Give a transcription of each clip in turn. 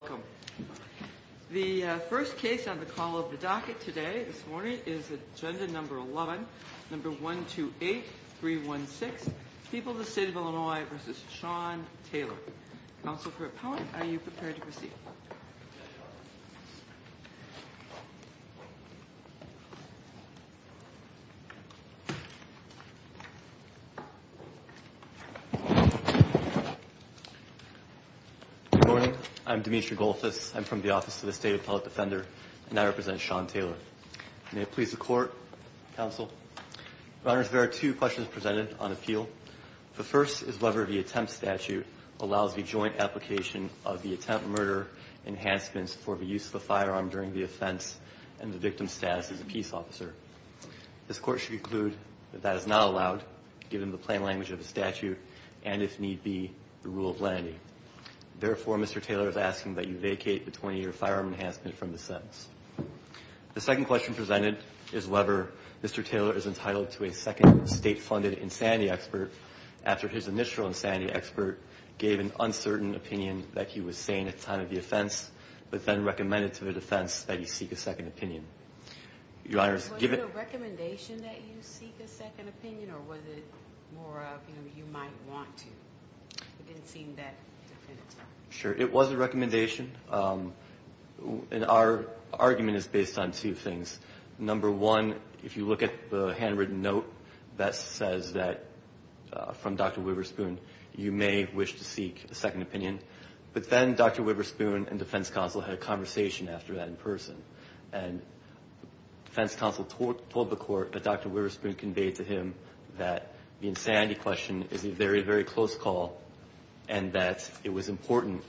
Welcome. The first case on the call of the docket today, this morning, is Agenda No. 11, No. 128, 316, People of the State of Illinois v. Sean Taylor. Counsel for Appellant, are you prepared to proceed? Good morning. I'm Demetri Goldfuss. I'm from the Office of the State Appellate Defender, and I represent Sean Taylor. May it please the Court, Counsel. Your Honor, there are two questions presented on appeal. The first is whether the attempt statute allows the joint application of the attempt murder enhancements for the use of the firearm during the offense and the victim's status as a peace officer. This Court should conclude that that is not allowed, given the plain language of the statute and, if need be, the rule of lenity. Therefore, Mr. Taylor is asking that you vacate the 20-year firearm enhancement from the sentence. The second question presented is whether Mr. Taylor is entitled to a second state-funded insanity expert after his initial insanity expert gave an uncertain opinion that he was sane at the time of the offense, but then recommended to the defense that he seek a second opinion. Was it a recommendation that you seek a second opinion, or was it more of, you know, you might want to? It didn't seem that definitive. Sure. It was a recommendation, and our argument is based on two things. Number one, if you look at the handwritten note that says that, from Dr. Wibberspoon, you may wish to seek a second opinion. But then Dr. Wibberspoon and defense counsel had a conversation after that in person, and defense counsel told the Court that Dr. Wibberspoon conveyed to him that the insanity question is a very, very close call and that it was important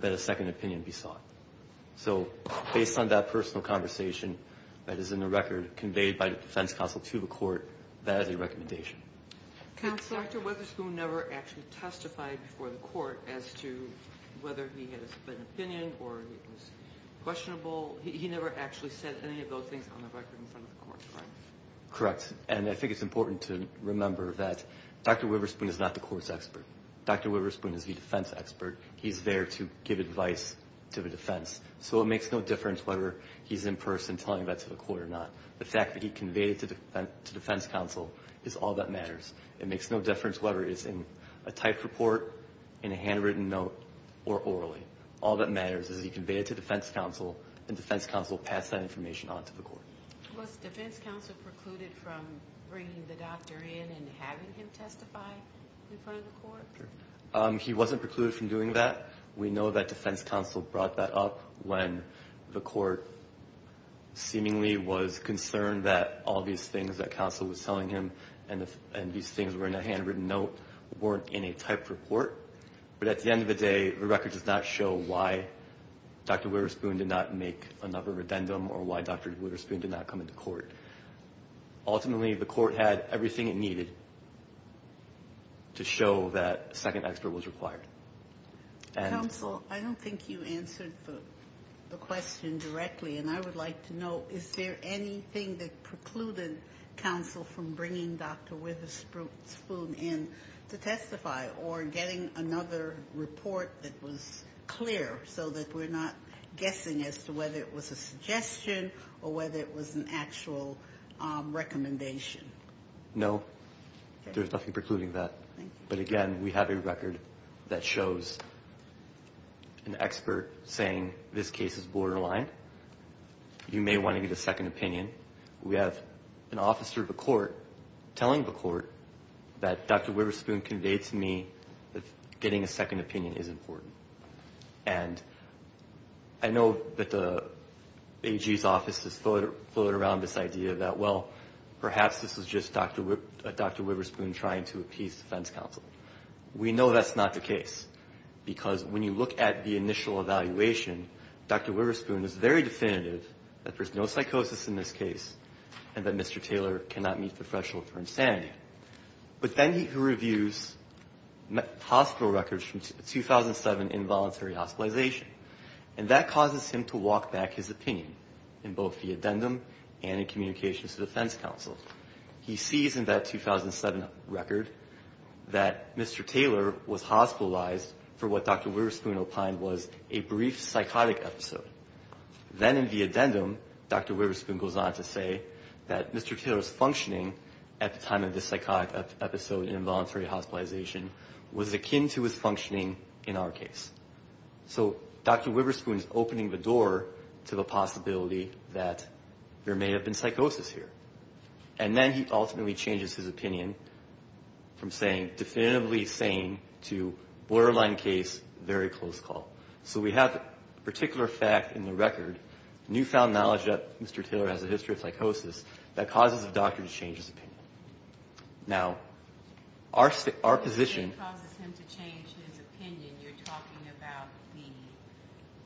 that a second opinion be sought. So, based on that personal conversation that is in the record conveyed by the defense counsel to the Court, that is a recommendation. But Dr. Wibberspoon never actually testified before the Court as to whether he had a second opinion or it was questionable. He never actually said any of those things on the record in front of the Court, correct? Correct. And I think it's important to remember that Dr. Wibberspoon is not the Court's expert. Dr. Wibberspoon is the defense expert. He's there to give advice to the defense. So it makes no difference whether he's in person telling that to the Court or not. The fact that he conveyed it to defense counsel is all that matters. It makes no difference whether it's in a typed report, in a handwritten note, or orally. All that matters is he conveyed it to defense counsel, and defense counsel passed that information on to the Court. Was defense counsel precluded from bringing the doctor in and having him testify in front of the Court? He wasn't precluded from doing that. We know that defense counsel brought that up when the Court seemingly was concerned that all these things that counsel was telling him and these things were in a handwritten note weren't in a typed report. But at the end of the day, the record does not show why Dr. Wibberspoon did not make another addendum or why Dr. Wibberspoon did not come into court. Ultimately, the Court had everything it needed to show that a second expert was required. Counsel, I don't think you answered the question directly, and I would like to know, is there anything that precluded counsel from bringing Dr. Wibberspoon in to testify or getting another report that was clear so that we're not guessing as to whether it was a suggestion or whether it was an actual recommendation? No, there's nothing precluding that. But again, we have a record that shows an expert saying this case is borderline. You may want to get a second opinion. We have an officer of the Court telling the Court that Dr. Wibberspoon conveyed to me that getting a second opinion is important. And I know that the AG's office has floated around this idea that, well, perhaps this was just Dr. Wibberspoon trying to appease defense counsel. We know that's not the case, because when you look at the initial evaluation, Dr. Wibberspoon is very definitive that there's no psychosis in this case and that Mr. Taylor cannot meet the threshold for insanity. But then he reviews hospital records from 2007 involuntary hospitalization, and that causes him to walk back his opinion in both the addendum and in communications to defense counsel. He sees in that 2007 record that Mr. Taylor was hospitalized for what Dr. Wibberspoon opined was a brief psychotic episode. Then in the addendum, Dr. Wibberspoon goes on to say that Mr. Taylor's functioning at the time of this psychotic episode in involuntary hospitalization was akin to his functioning in our case. So Dr. Wibberspoon is opening the door to the possibility that there may have been psychosis here. And then he ultimately changes his opinion from saying definitively sane to borderline case, very close call. So we have a particular fact in the record, newfound knowledge that Mr. Taylor has a history of psychosis, that causes the doctor to change his opinion. Now, our position... If it causes him to change his opinion, you're talking about the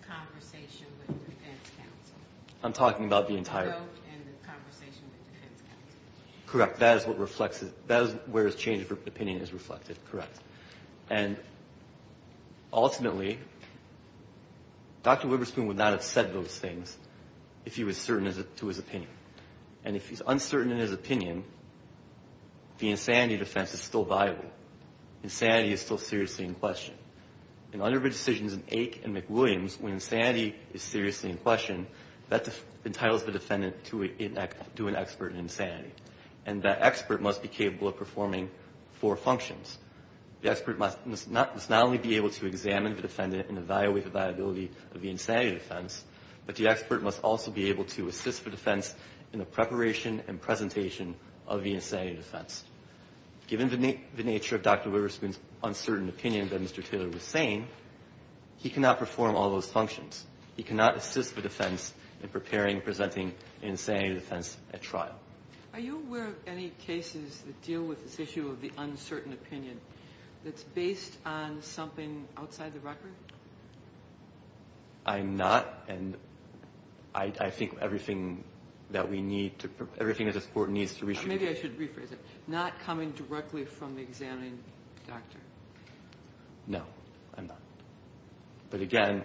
conversation with defense counsel. I'm talking about the entire... The note and the conversation with defense counsel. Correct. That is where his change of opinion is reflected. Correct. And ultimately, Dr. Wibberspoon would not have said those things if he was certain to his opinion. And if he's uncertain in his opinion, the insanity defense is still viable. Insanity is still seriously in question. And under the decisions in Ake and McWilliams, when insanity is seriously in question, that entitles the defendant to an expert in insanity. And that expert must be capable of performing four functions. The expert must not only be able to examine the defendant and evaluate the viability of the insanity defense, but the expert must also be able to assist the defense in the preparation and presentation of the insanity defense. Given the nature of Dr. Wibberspoon's uncertain opinion that Mr. Taylor was saying, he cannot perform all those functions. He cannot assist the defense in preparing and presenting an insanity defense at trial. Are you aware of any cases that deal with this issue of the uncertain opinion that's based on something outside the record? I'm not, and I think everything that we need to... Everything that this Court needs to reshoot... Maybe I should rephrase it. Not coming directly from the examining doctor. No, I'm not. But again,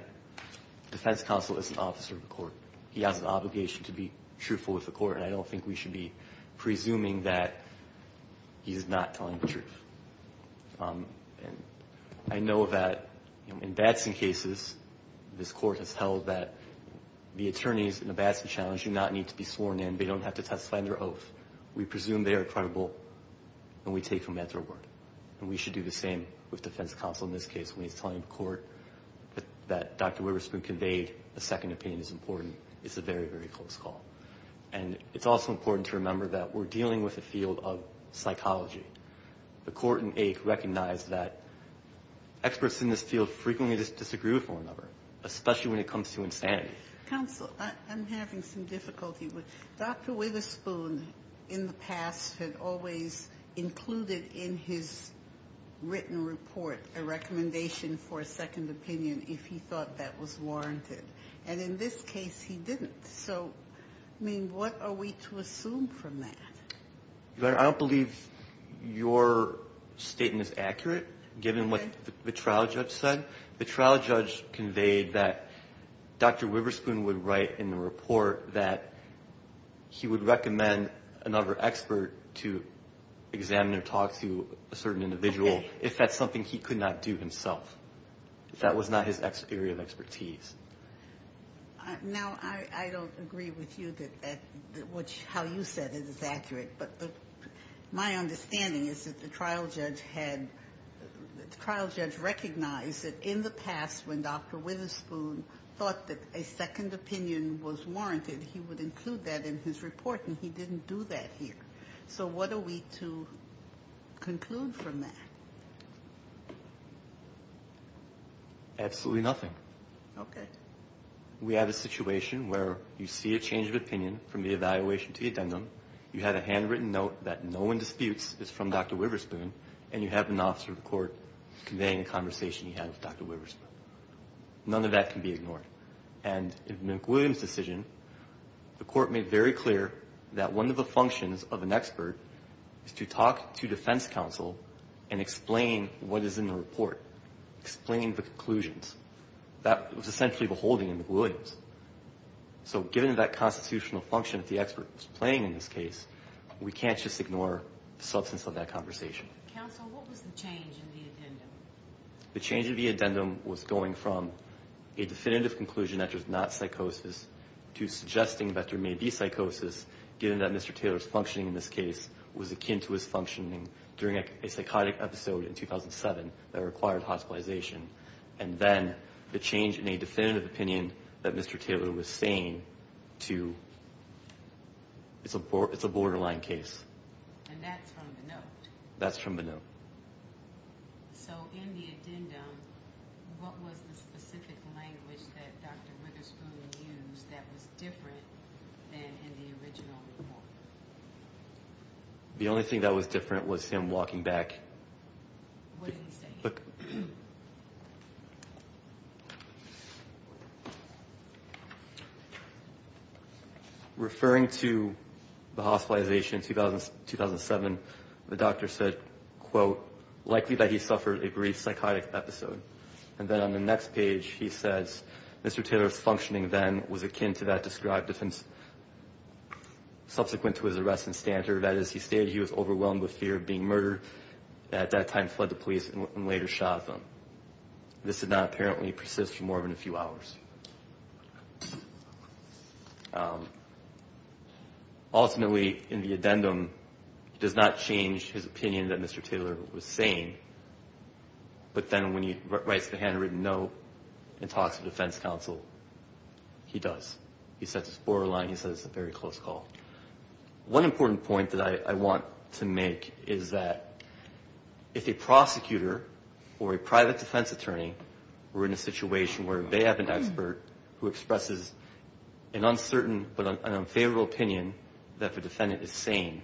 the defense counsel is an officer of the Court. He has an obligation to be truthful with the Court, and I don't think we should be presuming that he is not telling the truth. I know that in Batson cases, this Court has held that the attorneys in a Batson challenge do not need to be sworn in. They don't have to testify under oath. We presume they are credible, and we take them at their word. And we should do the same with defense counsel in this case when he's telling the Court that Dr. Wibberspoon conveyed a second opinion is important. It's a very, very close call. And it's also important to remember that we're dealing with a field of psychology. The Court in Aik recognized that experts in this field frequently disagree with one another, especially when it comes to insanity. Counsel, I'm having some difficulty. Dr. Wibberspoon, in the past, had always included in his written report a recommendation for a second opinion if he thought that was warranted. And in this case, he didn't. So, I mean, what are we to assume from that? Your Honor, I don't believe your statement is accurate, given what the trial judge said. The trial judge conveyed that Dr. Wibberspoon would write in the report that he would recommend another expert to examine or talk to a certain individual if that's something he could not do himself, if that was not his area of expertise. Now, I don't agree with you that how you said it is accurate. But my understanding is that the trial judge recognized that in the past, when Dr. Wibberspoon thought that a second opinion was warranted, he would include that in his report. And he didn't do that here. So what are we to conclude from that? Absolutely nothing. Okay. We have a situation where you see a change of opinion from the evaluation to the addendum. You had a handwritten note that no one disputes is from Dr. Wibberspoon, and you have an officer of the court conveying a conversation he had with Dr. Wibberspoon. None of that can be ignored. And in McWilliams' decision, the court made very clear that one of the functions of an expert is to talk to defense counsel and explain what is in the report, explain the conclusions. That was essentially the holding in McWilliams. So given that constitutional function that the expert was playing in this case, we can't just ignore the substance of that conversation. Counsel, what was the change in the addendum? The change in the addendum was going from a definitive conclusion that there's not psychosis to suggesting that there may be psychosis, given that Mr. Taylor's functioning in this case was akin to his functioning during a psychotic episode in 2007 that required hospitalization. And then the change in a definitive opinion that Mr. Taylor was saying to, it's a borderline case. And that's from the note? That's from the note. So in the addendum, what was the specific language that Dr. Wibberspoon used that was different than in the original report? The only thing that was different was him walking back. What did he say? Look. Referring to the hospitalization in 2007, the doctor said, quote, likely that he suffered a brief psychotic episode. And then on the next page he says, Mr. Taylor's functioning then was akin to that described subsequent to his arrest and standard, that is, he stated he was overwhelmed with fear of being murdered, at that time fled the police and later shot at them. This did not apparently persist for more than a few hours. Ultimately, in the addendum, he does not change his opinion that Mr. Taylor was saying, but then when he writes the handwritten note and talks to the defense counsel, he does. He sets his borderline. He says it's a very close call. One important point that I want to make is that if a prosecutor or a private defense attorney were in a situation where they have an expert who expresses an uncertain but an unfavorable opinion that the defendant is saying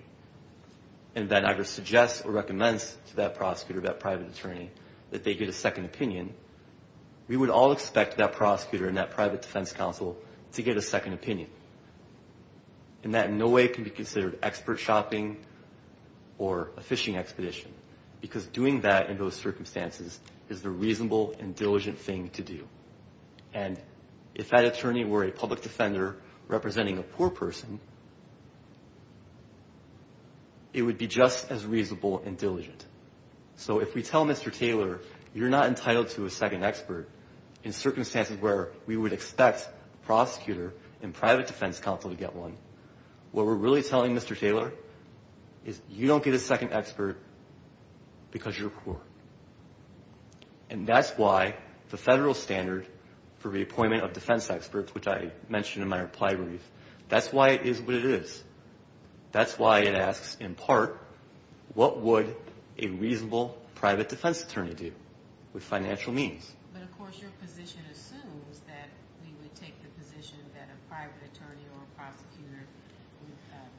and then either suggests or recommends to that prosecutor, that private attorney, that they get a second opinion, we would all expect that prosecutor and that private defense counsel to get a second opinion. And that in no way can be considered expert shopping or a fishing expedition, because doing that in those circumstances is the reasonable and diligent thing to do. And if that attorney were a public defender representing a poor person, it would be just as reasonable and diligent. So if we tell Mr. Taylor you're not entitled to a second expert in circumstances where we would expect a prosecutor and private defense counsel to get one, what we're really telling Mr. Taylor is you don't get a second expert because you're poor. And that's why the federal standard for the appointment of defense experts, which I mentioned in my reply brief, that's why it is what it is. That's why it asks, in part, what would a reasonable private defense attorney do with financial means? But, of course, your position assumes that we would take the position that a private attorney or prosecutor would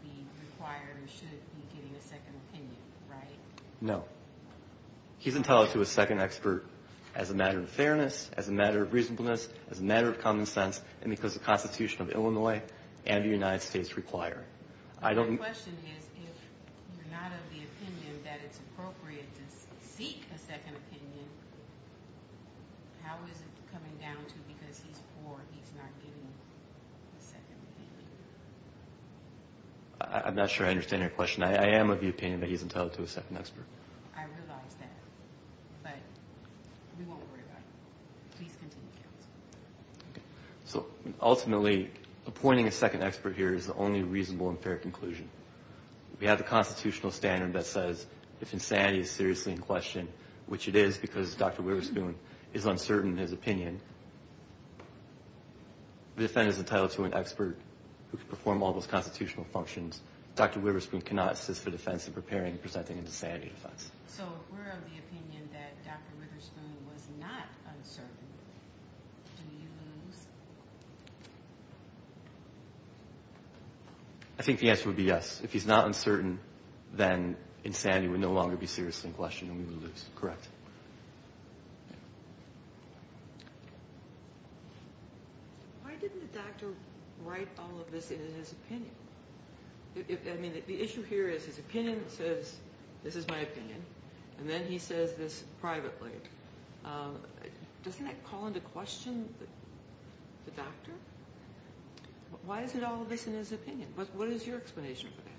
be required or should be getting a second opinion, right? No. He's entitled to a second expert as a matter of fairness, as a matter of reasonableness, as a matter of common sense, and because of the Constitution of Illinois and the United States require. My question is if you're not of the opinion that it's appropriate to seek a second opinion, how is it coming down to because he's poor, he's not getting a second opinion? I'm not sure I understand your question. I am of the opinion that he's entitled to a second expert. I realize that, but we won't worry about it. Please continue, counsel. So, ultimately, appointing a second expert here is the only reasonable and fair conclusion. We have the constitutional standard that says if insanity is seriously in question, which it is because Dr. Witherspoon is uncertain in his opinion, the defendant is entitled to an expert who can perform all those constitutional functions. Dr. Witherspoon cannot assist the defense in preparing and presenting an insanity defense. So if we're of the opinion that Dr. Witherspoon was not uncertain, do you lose? I think the answer would be yes. If he's not uncertain, then insanity would no longer be seriously in question and we would lose. Correct. Why didn't the doctor write all of this in his opinion? I mean, the issue here is his opinion says, this is my opinion, and then he says this privately. Doesn't that call into question the doctor? Why isn't all of this in his opinion? What is your explanation for that?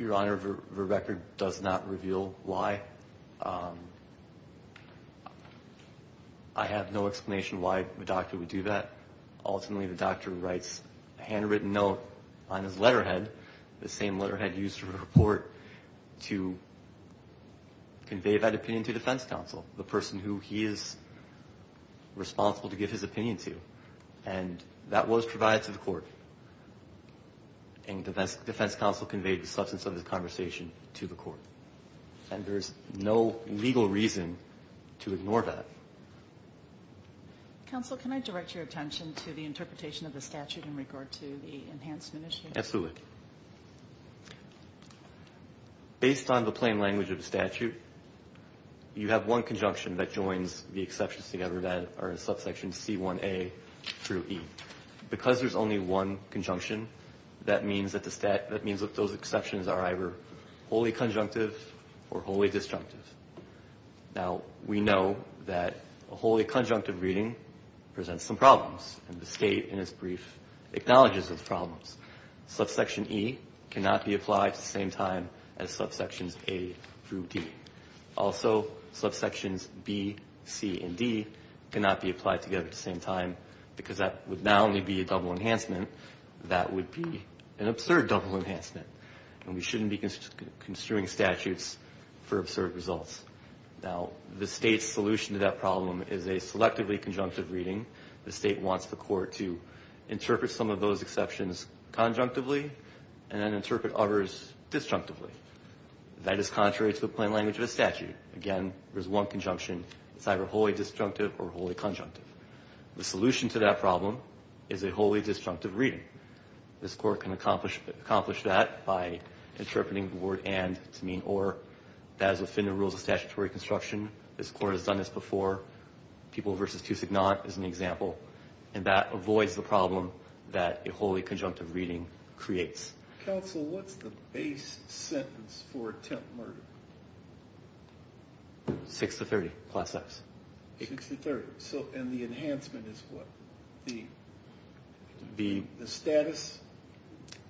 Your Honor, the record does not reveal why. I have no explanation why the doctor would do that. Ultimately, the doctor writes a handwritten note on his letterhead, the same letterhead used for a report to convey that opinion to defense counsel, the person who he is responsible to give his opinion to. And that was provided to the court, and defense counsel conveyed the substance of his conversation to the court. And there's no legal reason to ignore that. Counsel, can I direct your attention to the interpretation of the statute in regard to the enhancement issue? Absolutely. Based on the plain language of the statute, you have one conjunction that joins the exceptions together that are in subsection C1A through E. Because there's only one conjunction, that means that those exceptions are either wholly conjunctive or wholly disjunctive. Now, we know that a wholly conjunctive reading presents some problems, and the state in its brief acknowledges those problems. Subsection E cannot be applied at the same time as subsections A through D. Also, subsections B, C, and D cannot be applied together at the same time because that would not only be a double enhancement, that would be an absurd double enhancement. And we shouldn't be construing statutes for absurd results. Now, the state's solution to that problem is a selectively conjunctive reading. The state wants the court to interpret some of those exceptions conjunctively and then interpret others disjunctively. That is contrary to the plain language of the statute. Again, there's one conjunction. It's either wholly disjunctive or wholly conjunctive. The solution to that problem is a wholly disjunctive reading. This court can accomplish that by interpreting the word and to mean or. That is within the rules of statutory construction. This court has done this before. People v. Toussignant is an example. And that avoids the problem that a wholly conjunctive reading creates. Counsel, what's the base sentence for attempt murder? Six to 30, class X. Six to 30. And the enhancement is what? The status?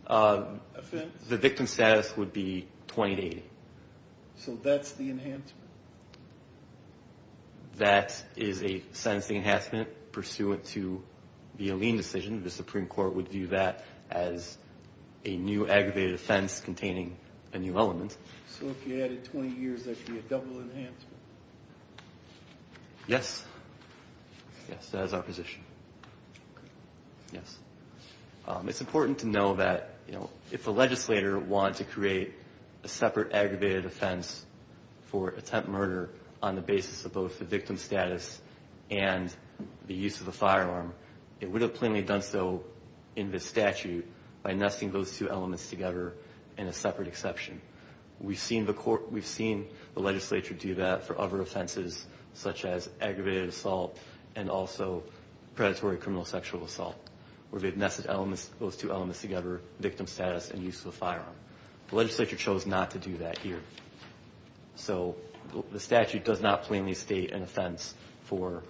The victim's status would be 20 to 80. So that's the enhancement? That is a sentencing enhancement pursuant to the Alleen decision. The Supreme Court would view that as a new aggravated offense containing a new element. So if you added 20 years, that would be a double enhancement? Yes. Yes, that is our position. Yes. It's important to know that, you know, if a legislator wanted to create a separate aggravated offense for attempt murder on the basis of both the victim's status and the use of a firearm, it would have plainly done so in this statute by nesting those two elements together in a separate exception. We've seen the legislature do that for other offenses such as aggravated assault and also predatory criminal sexual assault, where they've nested those two elements together, victim status and use of a firearm. The legislature chose not to do that here. So the statute does not plainly state an offense for,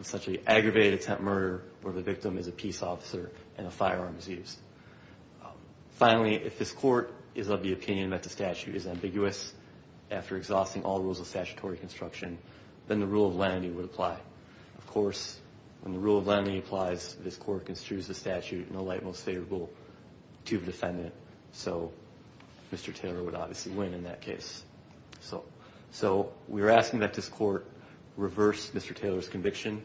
essentially, aggravated attempt murder where the victim is a peace officer and a firearm is used. Finally, if this court is of the opinion that the statute is ambiguous after exhausting all rules of statutory construction, then the rule of lenity would apply. Of course, when the rule of lenity applies, this court construes the statute in the light most favorable to the defendant. So Mr. Taylor would obviously win in that case. So we're asking that this court reverse Mr. Taylor's conviction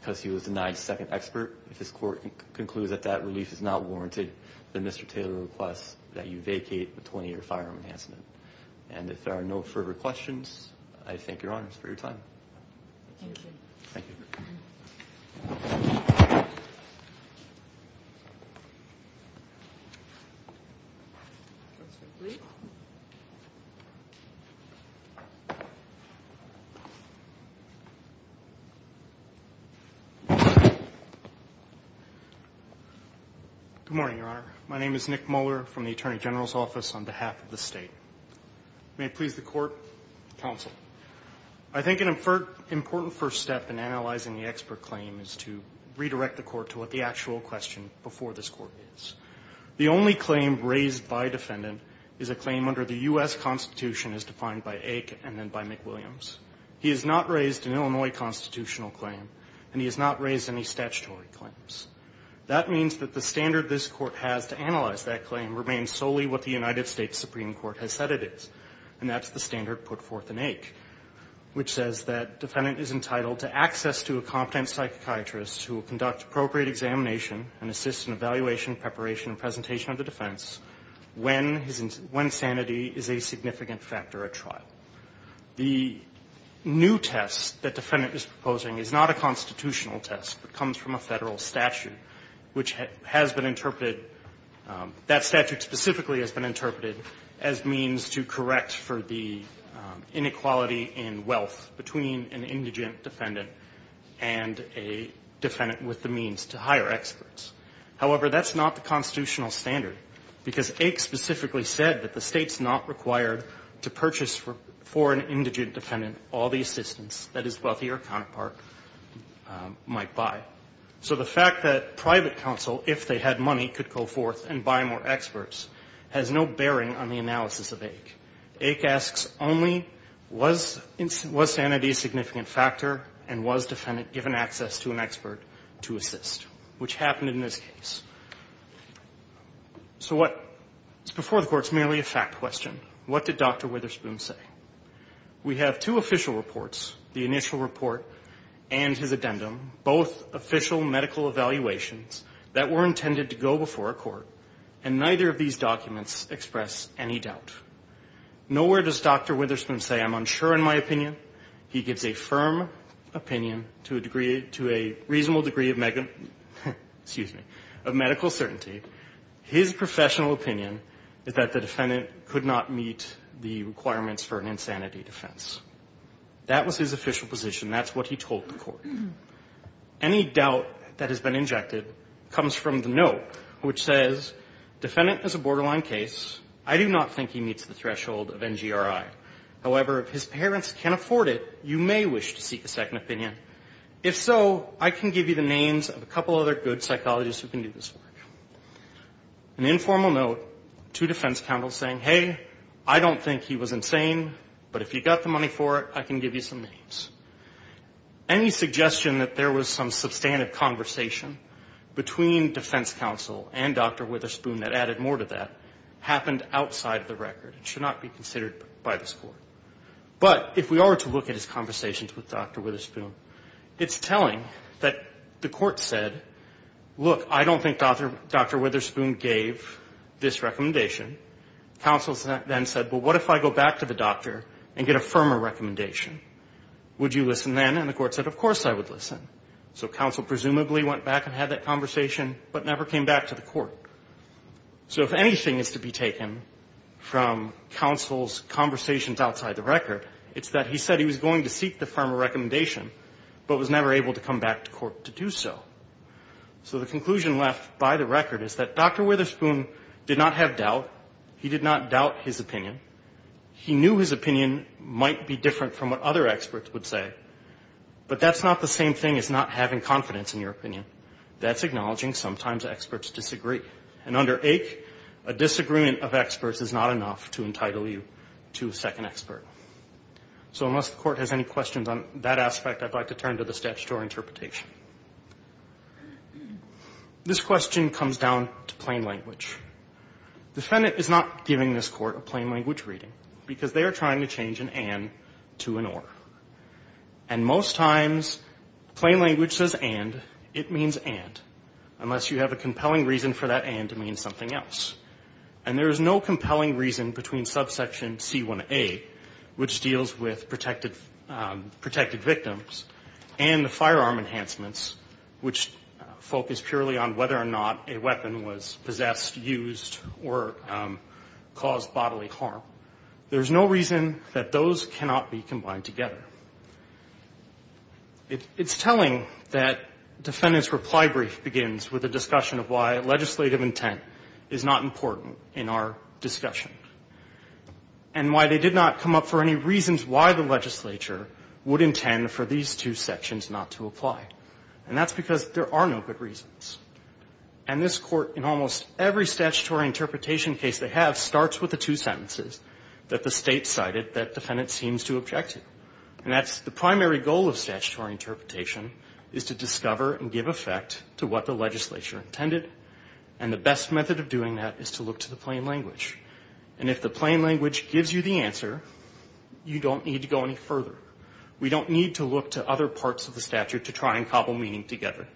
because he was denied second expert. If this court concludes that that relief is not warranted, then Mr. Taylor requests that you vacate the 20-year firearm enhancement. And if there are no further questions, I thank Your Honors for your time. Thank you. Thank you. Good morning, Your Honor. My name is Nick Muller from the Attorney General's Office on behalf of the State. May it please the Court, Counsel. I think an important first step in analyzing the expert claim is to redirect the Court to what the actual question before this Court is. The only claim raised by defendant is a claim under the U.S. Constitution as defined by Ake and then by McWilliams. He has not raised an Illinois constitutional claim, and he has not raised any statutory claims. That means that the standard this Court has to analyze that claim remains solely what the United States Supreme Court has said it is, and that's the standard put forth in Ake, which says that defendant is entitled to access to a competent psychiatrist who will conduct appropriate examination and assist in evaluation, preparation, and presentation of the defense when sanity is a significant factor at trial. The new test that defendant is proposing is not a constitutional test, but comes from a Federal statute, which has been interpreted, that statute specifically has been interpreted as means to correct for the inequality in wealth between an indigent defendant and a defendant with the means to hire experts. However, that's not the constitutional standard, because Ake specifically said that the State's not required to purchase for an indigent defendant all the assistance that his wealthier counterpart might buy. So the fact that private counsel, if they had money, could go forth and buy more experts has no bearing on the analysis of Ake. Ake asks only was sanity a significant factor and was defendant given access to an expert to assist, which happened in this case. So what's before the Court is merely a fact question. What did Dr. Witherspoon say? We have two official reports, the initial report and his addendum, both official medical evaluations that were intended to go before a court, and neither of these documents express any doubt. Nowhere does Dr. Witherspoon say, I'm unsure in my opinion. He gives a firm opinion to a reasonable degree of medical certainty. His professional opinion is that the defendant could not meet the requirements for an insanity defense. That was his official position. That's what he told the Court. Any doubt that has been injected comes from the note, which says, defendant is a borderline case. I do not think he meets the threshold of NGRI. However, if his parents can afford it, you may wish to seek a second opinion. If so, I can give you the names of a couple other good psychologists who can do this work. An informal note to defense counsel saying, hey, I don't think he was insane, but if you've got the money for it, I can give you some names. Any suggestion that there was some substantive conversation between defense counsel and Dr. Witherspoon that added more to that happened outside of the record. It should not be considered by this Court. But if we are to look at his conversations with Dr. Witherspoon, it's telling that the Court said, look, I don't think Dr. Witherspoon gave this recommendation. Counsel then said, well, what if I go back to the doctor and get a firmer recommendation? Would you listen then? And the Court said, of course I would listen. So counsel presumably went back and had that conversation, but never came back to the Court. So if anything is to be taken from counsel's conversations outside the record, it's that he said he was going to seek the firmer recommendation, but was never able to come back to Court to do so. So the conclusion left by the record is that Dr. Witherspoon did not have doubt. He did not doubt his opinion. He knew his opinion might be different from what other experts would say, but that's not the same thing as not having confidence in your opinion. That's acknowledging sometimes experts disagree. And under AIC, a disagreement of experts is not enough to entitle you to a second expert. So unless the Court has any questions on that aspect, I'd like to turn to the statutory interpretation. This question comes down to plain language. Defendant is not giving this Court a plain language reading because they are trying to change an and to an or. And most times, plain language says and. It means and, unless you have a compelling reason for that and to mean something else. And there is no compelling reason between subsection C1A, which deals with protected victims, and the firearm enhancements, which focus purely on whether or not a weapon was possessed, used, or caused bodily harm. There's no reason that those cannot be combined together. It's telling that defendant's reply brief begins with a discussion of why legislative intent is not important in our discussion, and why they did not come up for any reasons why the legislature would intend for these two sections not to apply. And that's because there are no good reasons. And this Court, in almost every statutory interpretation case they have, starts with the two sentences that the State cited that defendant seems to object to. And that's the primary goal of statutory interpretation, is to discover and give effect to what the legislature intended. And the best method of doing that is to look to the plain language. And if the plain language gives you the answer, you don't need to go any further. We don't need to look to other parts of the statute to try and cobble meaning together.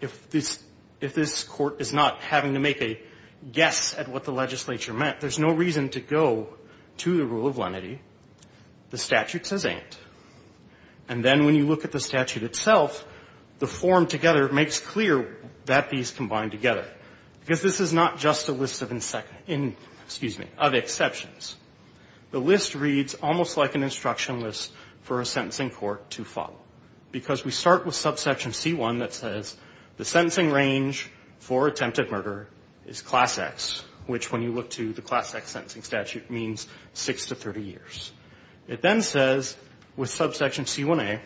If this Court is not having to make a guess at what the legislature meant, there's no reason to go to the rule of lenity. The statute says and. And then when you look at the statute itself, the form together makes clear that these combine together, because this is not just a list of exceptions. The list reads almost like an instruction list for a sentencing court to follow, because we start with subsection C1 that says the sentencing range for attempted murder is Class X, which when you look to the Class X sentencing statute means 6 to 30 years. It then says with subsection C1A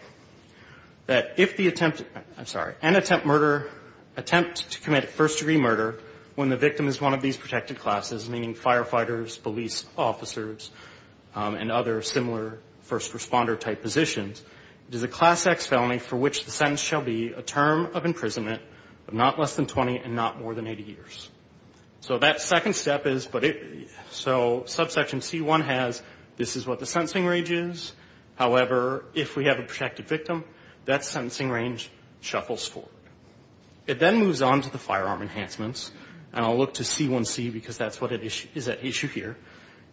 that if the attempted, I'm sorry, an attempt murder, attempt to commit first-degree murder when the victim is one of these protected classes, meaning firefighters, police officers, and other similar first-responder-type positions, it is a Class X felony for which the sentence shall be a term of imprisonment of not less than 20 and not more than 80 years. So that second step is, but it, so subsection C1 has, this is what the sentencing range is. However, if we have a protected victim, that sentencing range shuffles forward. It then moves on to the firearm enhancements, and I'll look to C1C because that's what is at issue here.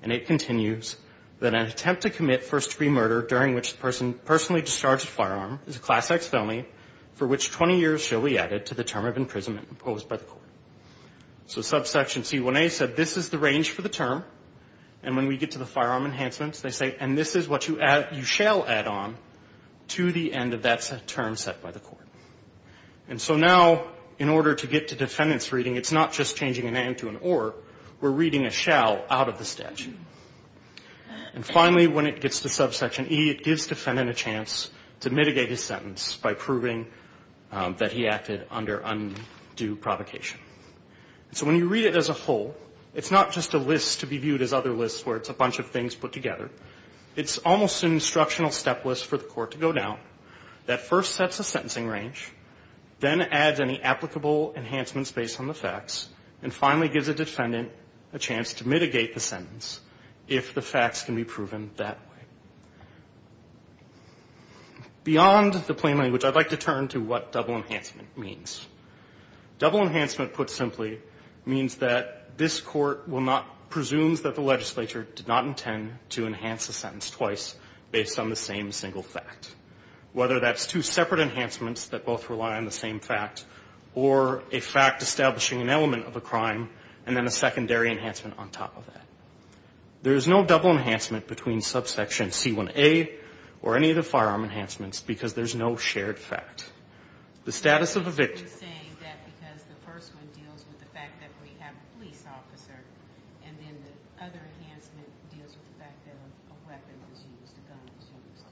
And it continues that an attempt to commit first-degree murder during which the person personally discharged a firearm is a Class X felony for which 20 years shall be added to the term of imprisonment imposed by the court. So subsection C1A said this is the range for the term, and when we get to the firearm enhancements, they say, and this is what you shall add on to the end of that term set by the court. And so now, in order to get to defendant's reading, it's not just changing an and to an or. We're reading a shall out of the statute. And finally, when it gets to subsection E, it gives defendant a chance to mitigate his sentence by proving that he acted under undue provocation. So when you read it as a whole, it's not just a list to be viewed as other lists where it's a bunch of things put together. It's almost an instructional step list for the court to go down that first sets a sentencing range, then adds any applicable enhancements based on the facts, and finally gives a defendant a chance to mitigate the sentence if the facts can be proven that way. Beyond the plain language, I'd like to turn to what double enhancement means. Double enhancement, put simply, means that this court will not presume that the legislature did not intend to enhance a sentence twice based on the same single fact. Whether that's two separate enhancements that both rely on the same fact, or a fact establishing an element of a crime, and then a secondary enhancement on top of that. There is no double enhancement between subsection C1A or any of the firearm enhancements because there's no shared fact. The status of a victim. The first one deals with the fact that we have a police officer, and then the other enhancement deals with the fact that a weapon was used, a gun was used.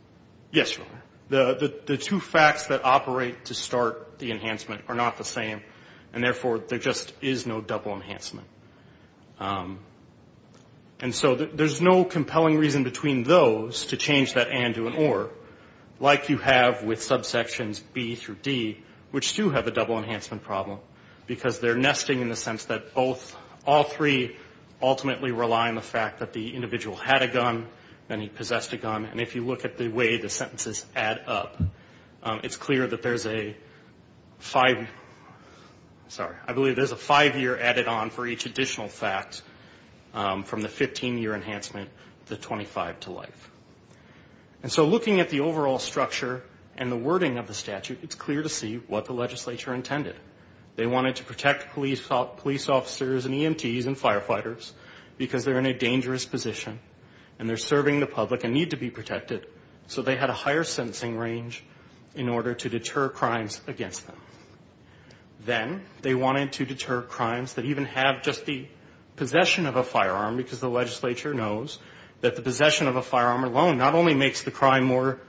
Yes, Your Honor. The two facts that operate to start the enhancement are not the same, and therefore there just is no double enhancement. And so there's no compelling reason between those to change that and to an or, like you have with subsections B through D, which do have a double enhancement problem, because they're nesting in the sense that both, all three ultimately rely on the fact that the individual had a gun and he possessed a gun. And if you look at the way the sentences add up, it's clear that there's a five, sorry, I believe there's a five year added on for each additional fact from the 15 year enhancement to 25 to life. And so looking at the overall structure and the wording of the statute, it's clear to see what the legislature intended. They wanted to protect police officers and EMTs and they're serving the public and need to be protected, so they had a higher sentencing range in order to deter crimes against them. Then they wanted to deter crimes that even have just the possession of a firearm, because the legislature knows that the possession of a firearm alone not only makes the crime more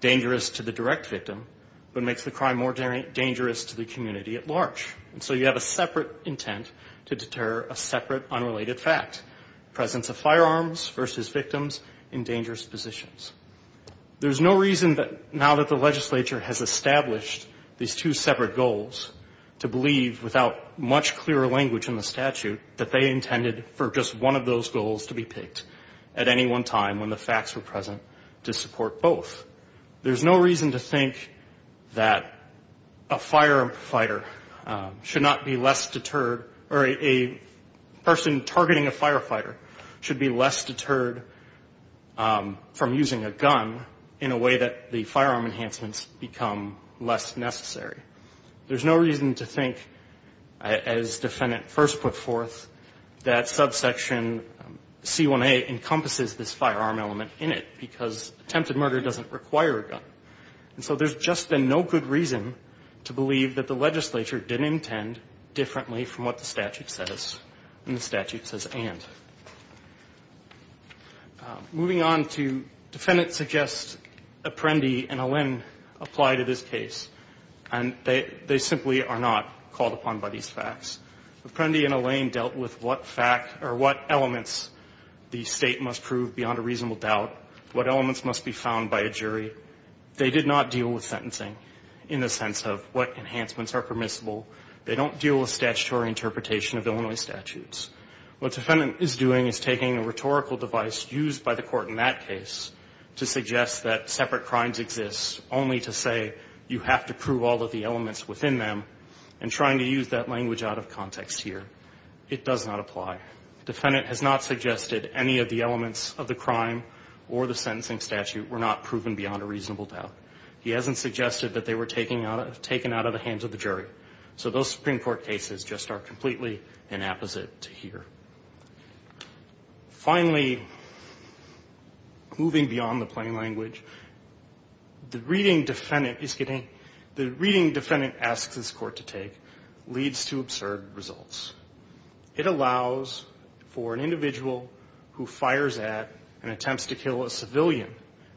dangerous to the direct victim, but makes the crime more dangerous to the victims in dangerous positions. There's no reason that now that the legislature has established these two separate goals to believe without much clearer language in the statute that they intended for just one of those goals to be picked at any one time when the facts were present to support both. There's no reason to think that a firefighter should not be less deterred or a person targeting a firefighter should be less deterred from using a gun in a way that the firearm enhancements become less necessary. There's no reason to think, as defendant first put forth, that subsection C1A encompasses this firearm element in it, because attempted murder doesn't require a gun. And so there's just been no good reason to believe that the legislature did intend differently from what the statute says and the statute says and. Moving on to defendants suggest Apprendi and Allain apply to this case, and they simply are not called upon by these facts. Apprendi and Allain dealt with what fact or what elements the State must prove beyond a reasonable doubt, what elements must be found by a jury. They did not deal with sentencing in the sense of what enhancements are permissible. They don't deal with statutory interpretation of Illinois statutes. What defendant is doing is taking a rhetorical device used by the court in that case to suggest that separate crimes exist only to say you have to prove all of the elements within them and trying to use that language out of context here. It does not apply. Defendant has not suggested any of the elements of the crime or the sentencing statute were not proven beyond a reasonable doubt. He hasn't suggested that they were taken out of the hands of the jury. So those Supreme Court cases just are completely inapposite to here. Finally, moving beyond the plain language, the reading defendant asks this court to take leads to absurd results. It allows for an individual who fires at and attempts to kill a civilian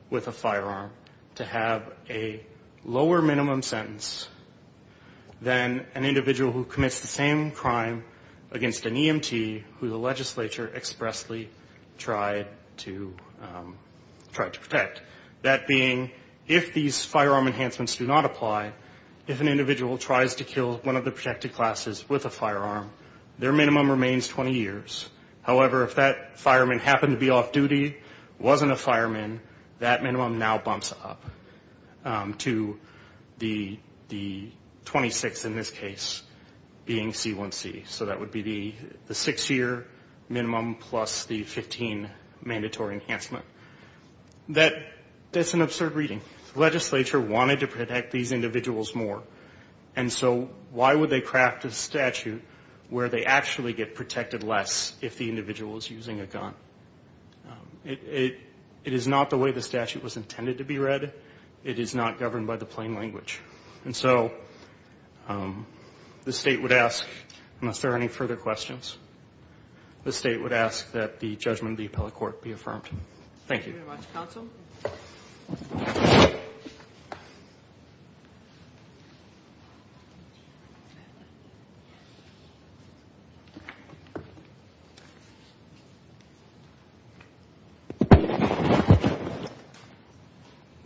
with a firearm to have a lower minimum sentence than an individual who commits the same crime against an EMT who the legislature expressly tried to protect, that being if these firearm enhancements do not apply, if an individual tries to kill one of the protected classes with a firearm, their minimum remains 20 years. However, if that fireman happened to be off-duty, wasn't a fireman, that minimum now bumps up to the 26 in this case being C1C. So that would be the six-year minimum plus the 15 mandatory enhancement. That's an absurd reading. The legislature wanted to protect these individuals more. And so why would they craft a statute where they actually get protected less if the individual is using a gun? It is not the way the statute was intended to be read. It is not governed by the plain language. And so the State would ask, unless there are any further questions, the State would ask that the judgment of the appellate court be affirmed. Thank you.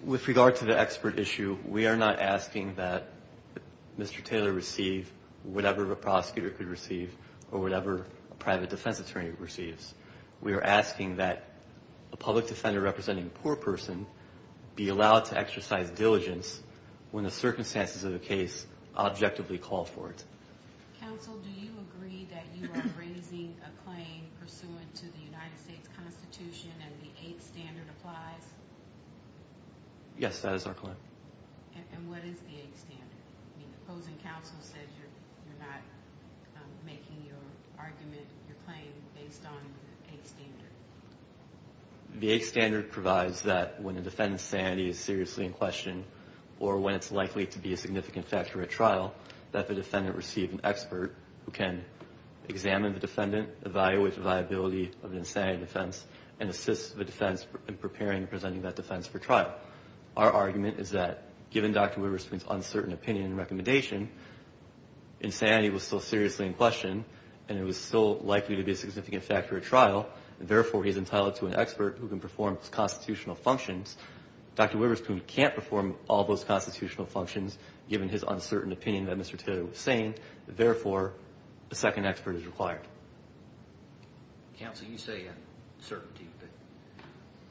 With regard to the expert issue, we are not asking that Mr. Taylor receive whatever a prosecutor could receive or whatever a private defense attorney receives. We are asking that a public defender representing a poor person be allowed to exercise diligence when the circumstances of the case objectively call for it. And the 8th standard applies? Yes, that is our claim. And what is the 8th standard? The opposing counsel said you're not making your argument, your claim, based on the 8th standard. The 8th standard provides that when a defendant's sanity is seriously in question or when it's in the interest of a defense in preparing and presenting that defense for trial. Our argument is that given Dr. Wibberspoon's uncertain opinion and recommendation, insanity was still seriously in question and it was still likely to be a significant factor at trial. Therefore, he's entitled to an expert who can perform his constitutional functions. Dr. Wibberspoon can't perform all those constitutional functions given his uncertain opinion that Mr. Taylor was saying. Therefore, a second expert is required. Counsel, you say uncertainty, but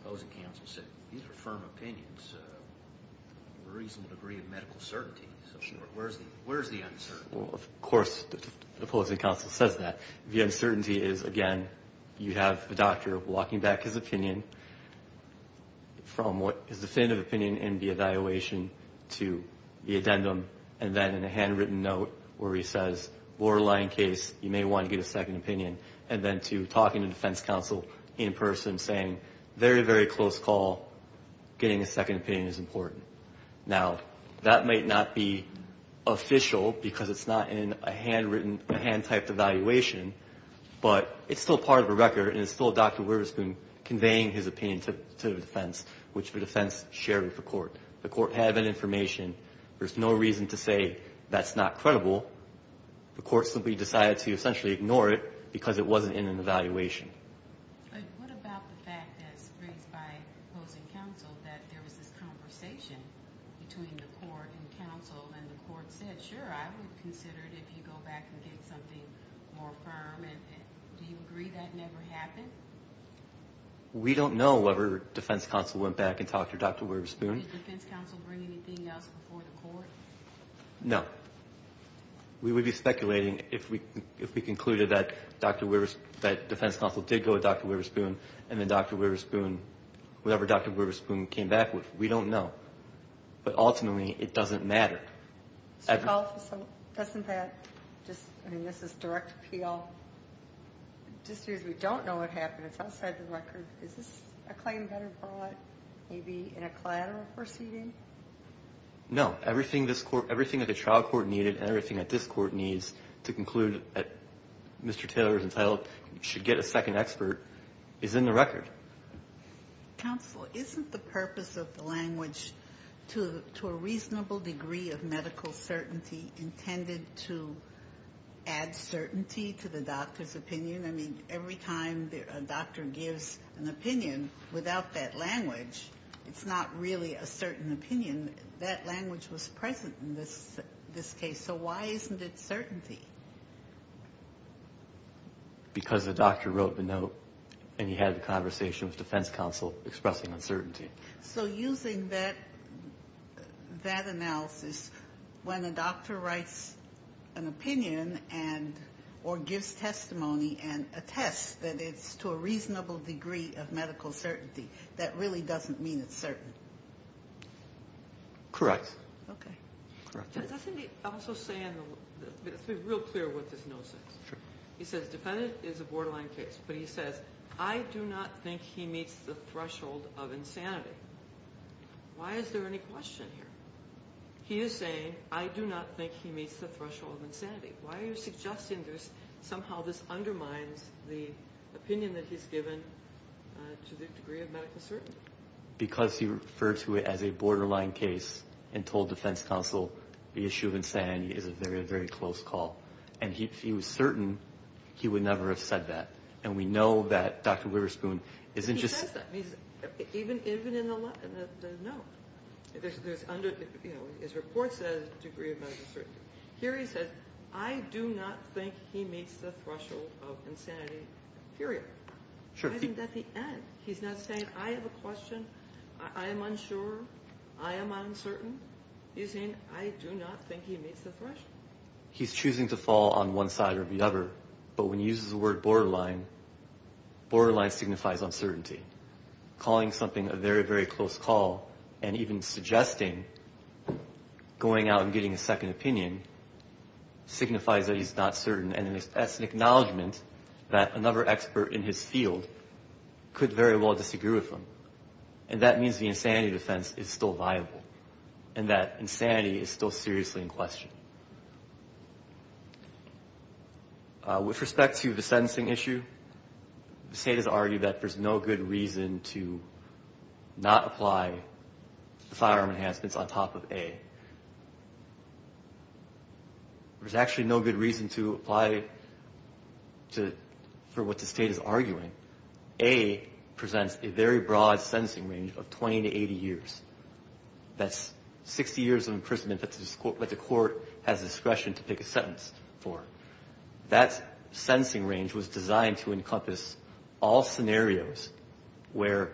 the opposing counsel said these are firm opinions. A reasonable degree of medical certainty. Where's the uncertainty? Of course, the opposing counsel says that. The uncertainty is, again, you have the doctor walking back his opinion from his definitive opinion in the evaluation to the addendum. And then in a handwritten note where he says, borderline case, you may want to get a second opinion. And then to talking to defense counsel in person saying, very, very close call. Getting a second opinion is important. Now, that might not be official because it's not in a handwritten, a hand-typed evaluation, but it's still part of a record and it's still Dr. Wibberspoon conveying his opinion to the defense, which the defense shared with the court. The court had that information. There's no reason to say that's not credible. The court simply decided to essentially ignore it because it wasn't in an evaluation. What about the fact that it's raised by opposing counsel that there was this conversation between the court and counsel and the court said, sure, I would consider it if you go back and get something more firm. Do you agree that never happened? We don't know whether defense counsel went back and talked to Dr. Wibberspoon. No. We would be speculating if we concluded that defense counsel did go to Dr. Wibberspoon and then Dr. Wibberspoon, whatever Dr. Wibberspoon came back with. We don't know. But ultimately, it doesn't matter. Doesn't that just, I mean, this is direct appeal. Just because we don't know what happened, it's outside the record. Is this a claim that was brought maybe in a collateral proceeding? No. Everything that the trial court needed and everything that this court needs to conclude that Mr. Taylor's entitled should get a second expert is in the record. Counsel, isn't the purpose of the language to a reasonable degree of medical certainty intended to add certainty to the doctor's opinion? I mean, every time a doctor gives an opinion without that language, it's not really a certain opinion. That language was present in this case. So why isn't it certainty? Because the doctor wrote the note and he had a conversation with defense counsel expressing uncertainty. So using that analysis, when a doctor writes an opinion or gives testimony and attests that it's to a reasonable degree of medical certainty, that really doesn't mean it's certain. Correct. Let's be real clear what this note says. He says, defendant is a borderline case. But he says, I do not think he meets the threshold of insanity. Why is there any question here? He is saying, I do not think he meets the threshold of insanity. Why are you suggesting there's somehow this undermines the opinion that he's given to the degree of medical certainty? Because he referred to it as a borderline case and told defense counsel the issue of insanity is a very, very close call. And he was certain he would never have said that. And we know that Dr. Witherspoon isn't just... No. His report says degree of medical certainty. Here he says, I do not think he meets the threshold of insanity, period. I think that's the end. He's not saying, I have a question. I am unsure. I am uncertain. He's saying, I do not think he meets the threshold. He's choosing to fall on one side or the other. But when he uses the word borderline, borderline signifies uncertainty. Calling something a very, very close call and even suggesting going out and getting a second opinion signifies that he's not certain. And that's an acknowledgment that another expert in his field could very well disagree with him. And that means the insanity defense is still viable and that insanity is still seriously in question. With respect to the sentencing issue, the state has argued that there's no good reason to not apply the firearm enhancements on top of A. There's actually no good reason to apply for what the state is arguing. A presents a very broad sentencing range of 20 to 80 years. That's 60 years of imprisonment that the court has discretion to pick a sentence for. That sentencing range was designed to encompass all scenarios where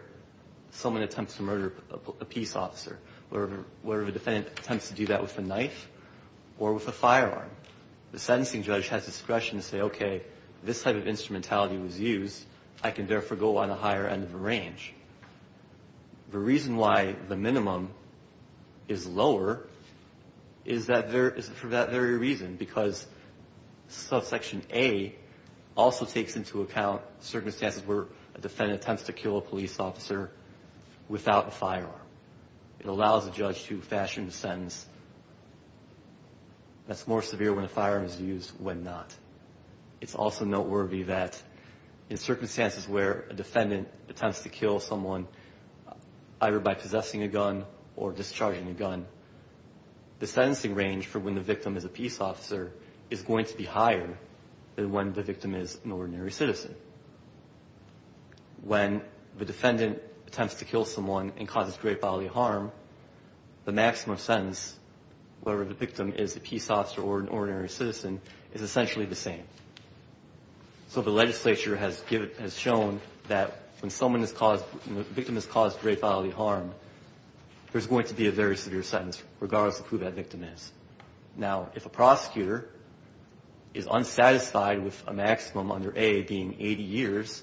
someone attempts to murder a peace officer, where the defendant attempts to do that with a knife or with a firearm. The sentencing judge has discretion to say, okay, this type of instrumentality was used. I can therefore go on a higher end of the range. The reason why the minimum is lower is for that very reason, because subsection A also takes into account circumstances where a defendant attempts to kill a police officer without a firearm. It allows a judge to fashion a sentence that's more severe when a firearm is used when not. It's also noteworthy that in circumstances where a defendant attempts to kill someone either by possessing a gun or discharging a gun, the sentencing range for when the victim is a peace officer is going to be higher than when the victim is an ordinary citizen. When the defendant attempts to kill someone and causes great bodily harm, the maximum sentence, whether the victim is a peace officer or an ordinary citizen, is essentially the same. So the legislature has shown that when the victim has caused great bodily harm, there's going to be a very severe sentence, regardless of who that victim is. Now, if a prosecutor is unsatisfied with a maximum under A being 80 years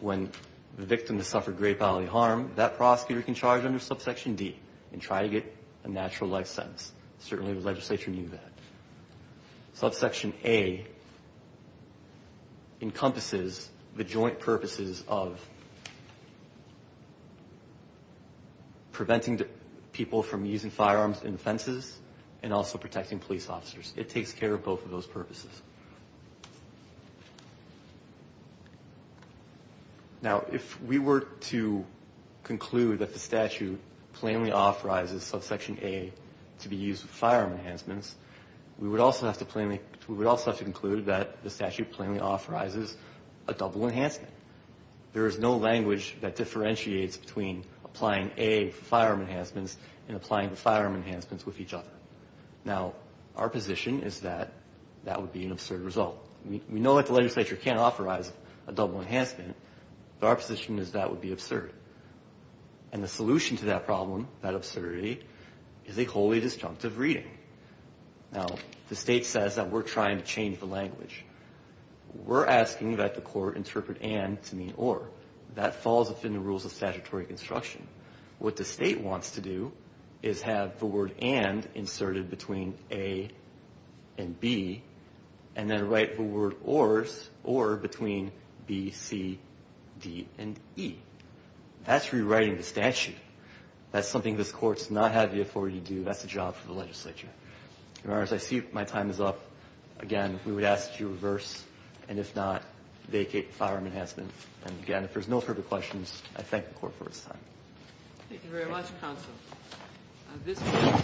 when the victim has suffered great bodily harm, that prosecutor can charge under subsection D and try to get a natural life sentence. Certainly the legislature knew that. Subsection A encompasses the joint purposes of preventing people from using firearms in offenses and also protecting police officers. It takes care of both of those purposes. Now, if we were to conclude that the statute plainly authorizes subsection A to be used as a maximum under A, to be used with firearm enhancements, we would also have to conclude that the statute plainly authorizes a double enhancement. There is no language that differentiates between applying A for firearm enhancements and applying the firearm enhancements with each other. Now, our position is that that would be an absurd result. We know that the legislature can't authorize a double enhancement, but our position is that would be absurd. And the solution to that problem, that absurdity, is a wholly disjunctive reading. Now, the state says that we're trying to change the language. We're asking that the court interpret and to mean or. That falls within the rules of statutory construction. What the state wants to do is have the word and inserted between A and B, and then write the word or between B, C, D, and E. That's rewriting the statute. That's something this court's not had the authority to do. That's the job for the legislature. Your Honors, I see my time is up. Again, we would ask that you reverse, and if not, vacate firearm enhancement. And again, if there's no further questions, I thank the court for its time. Thank you very much, counsel. This case,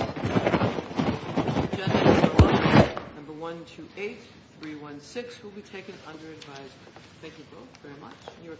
agenda number 128, 316, will be taken under advisement. Thank you both very much.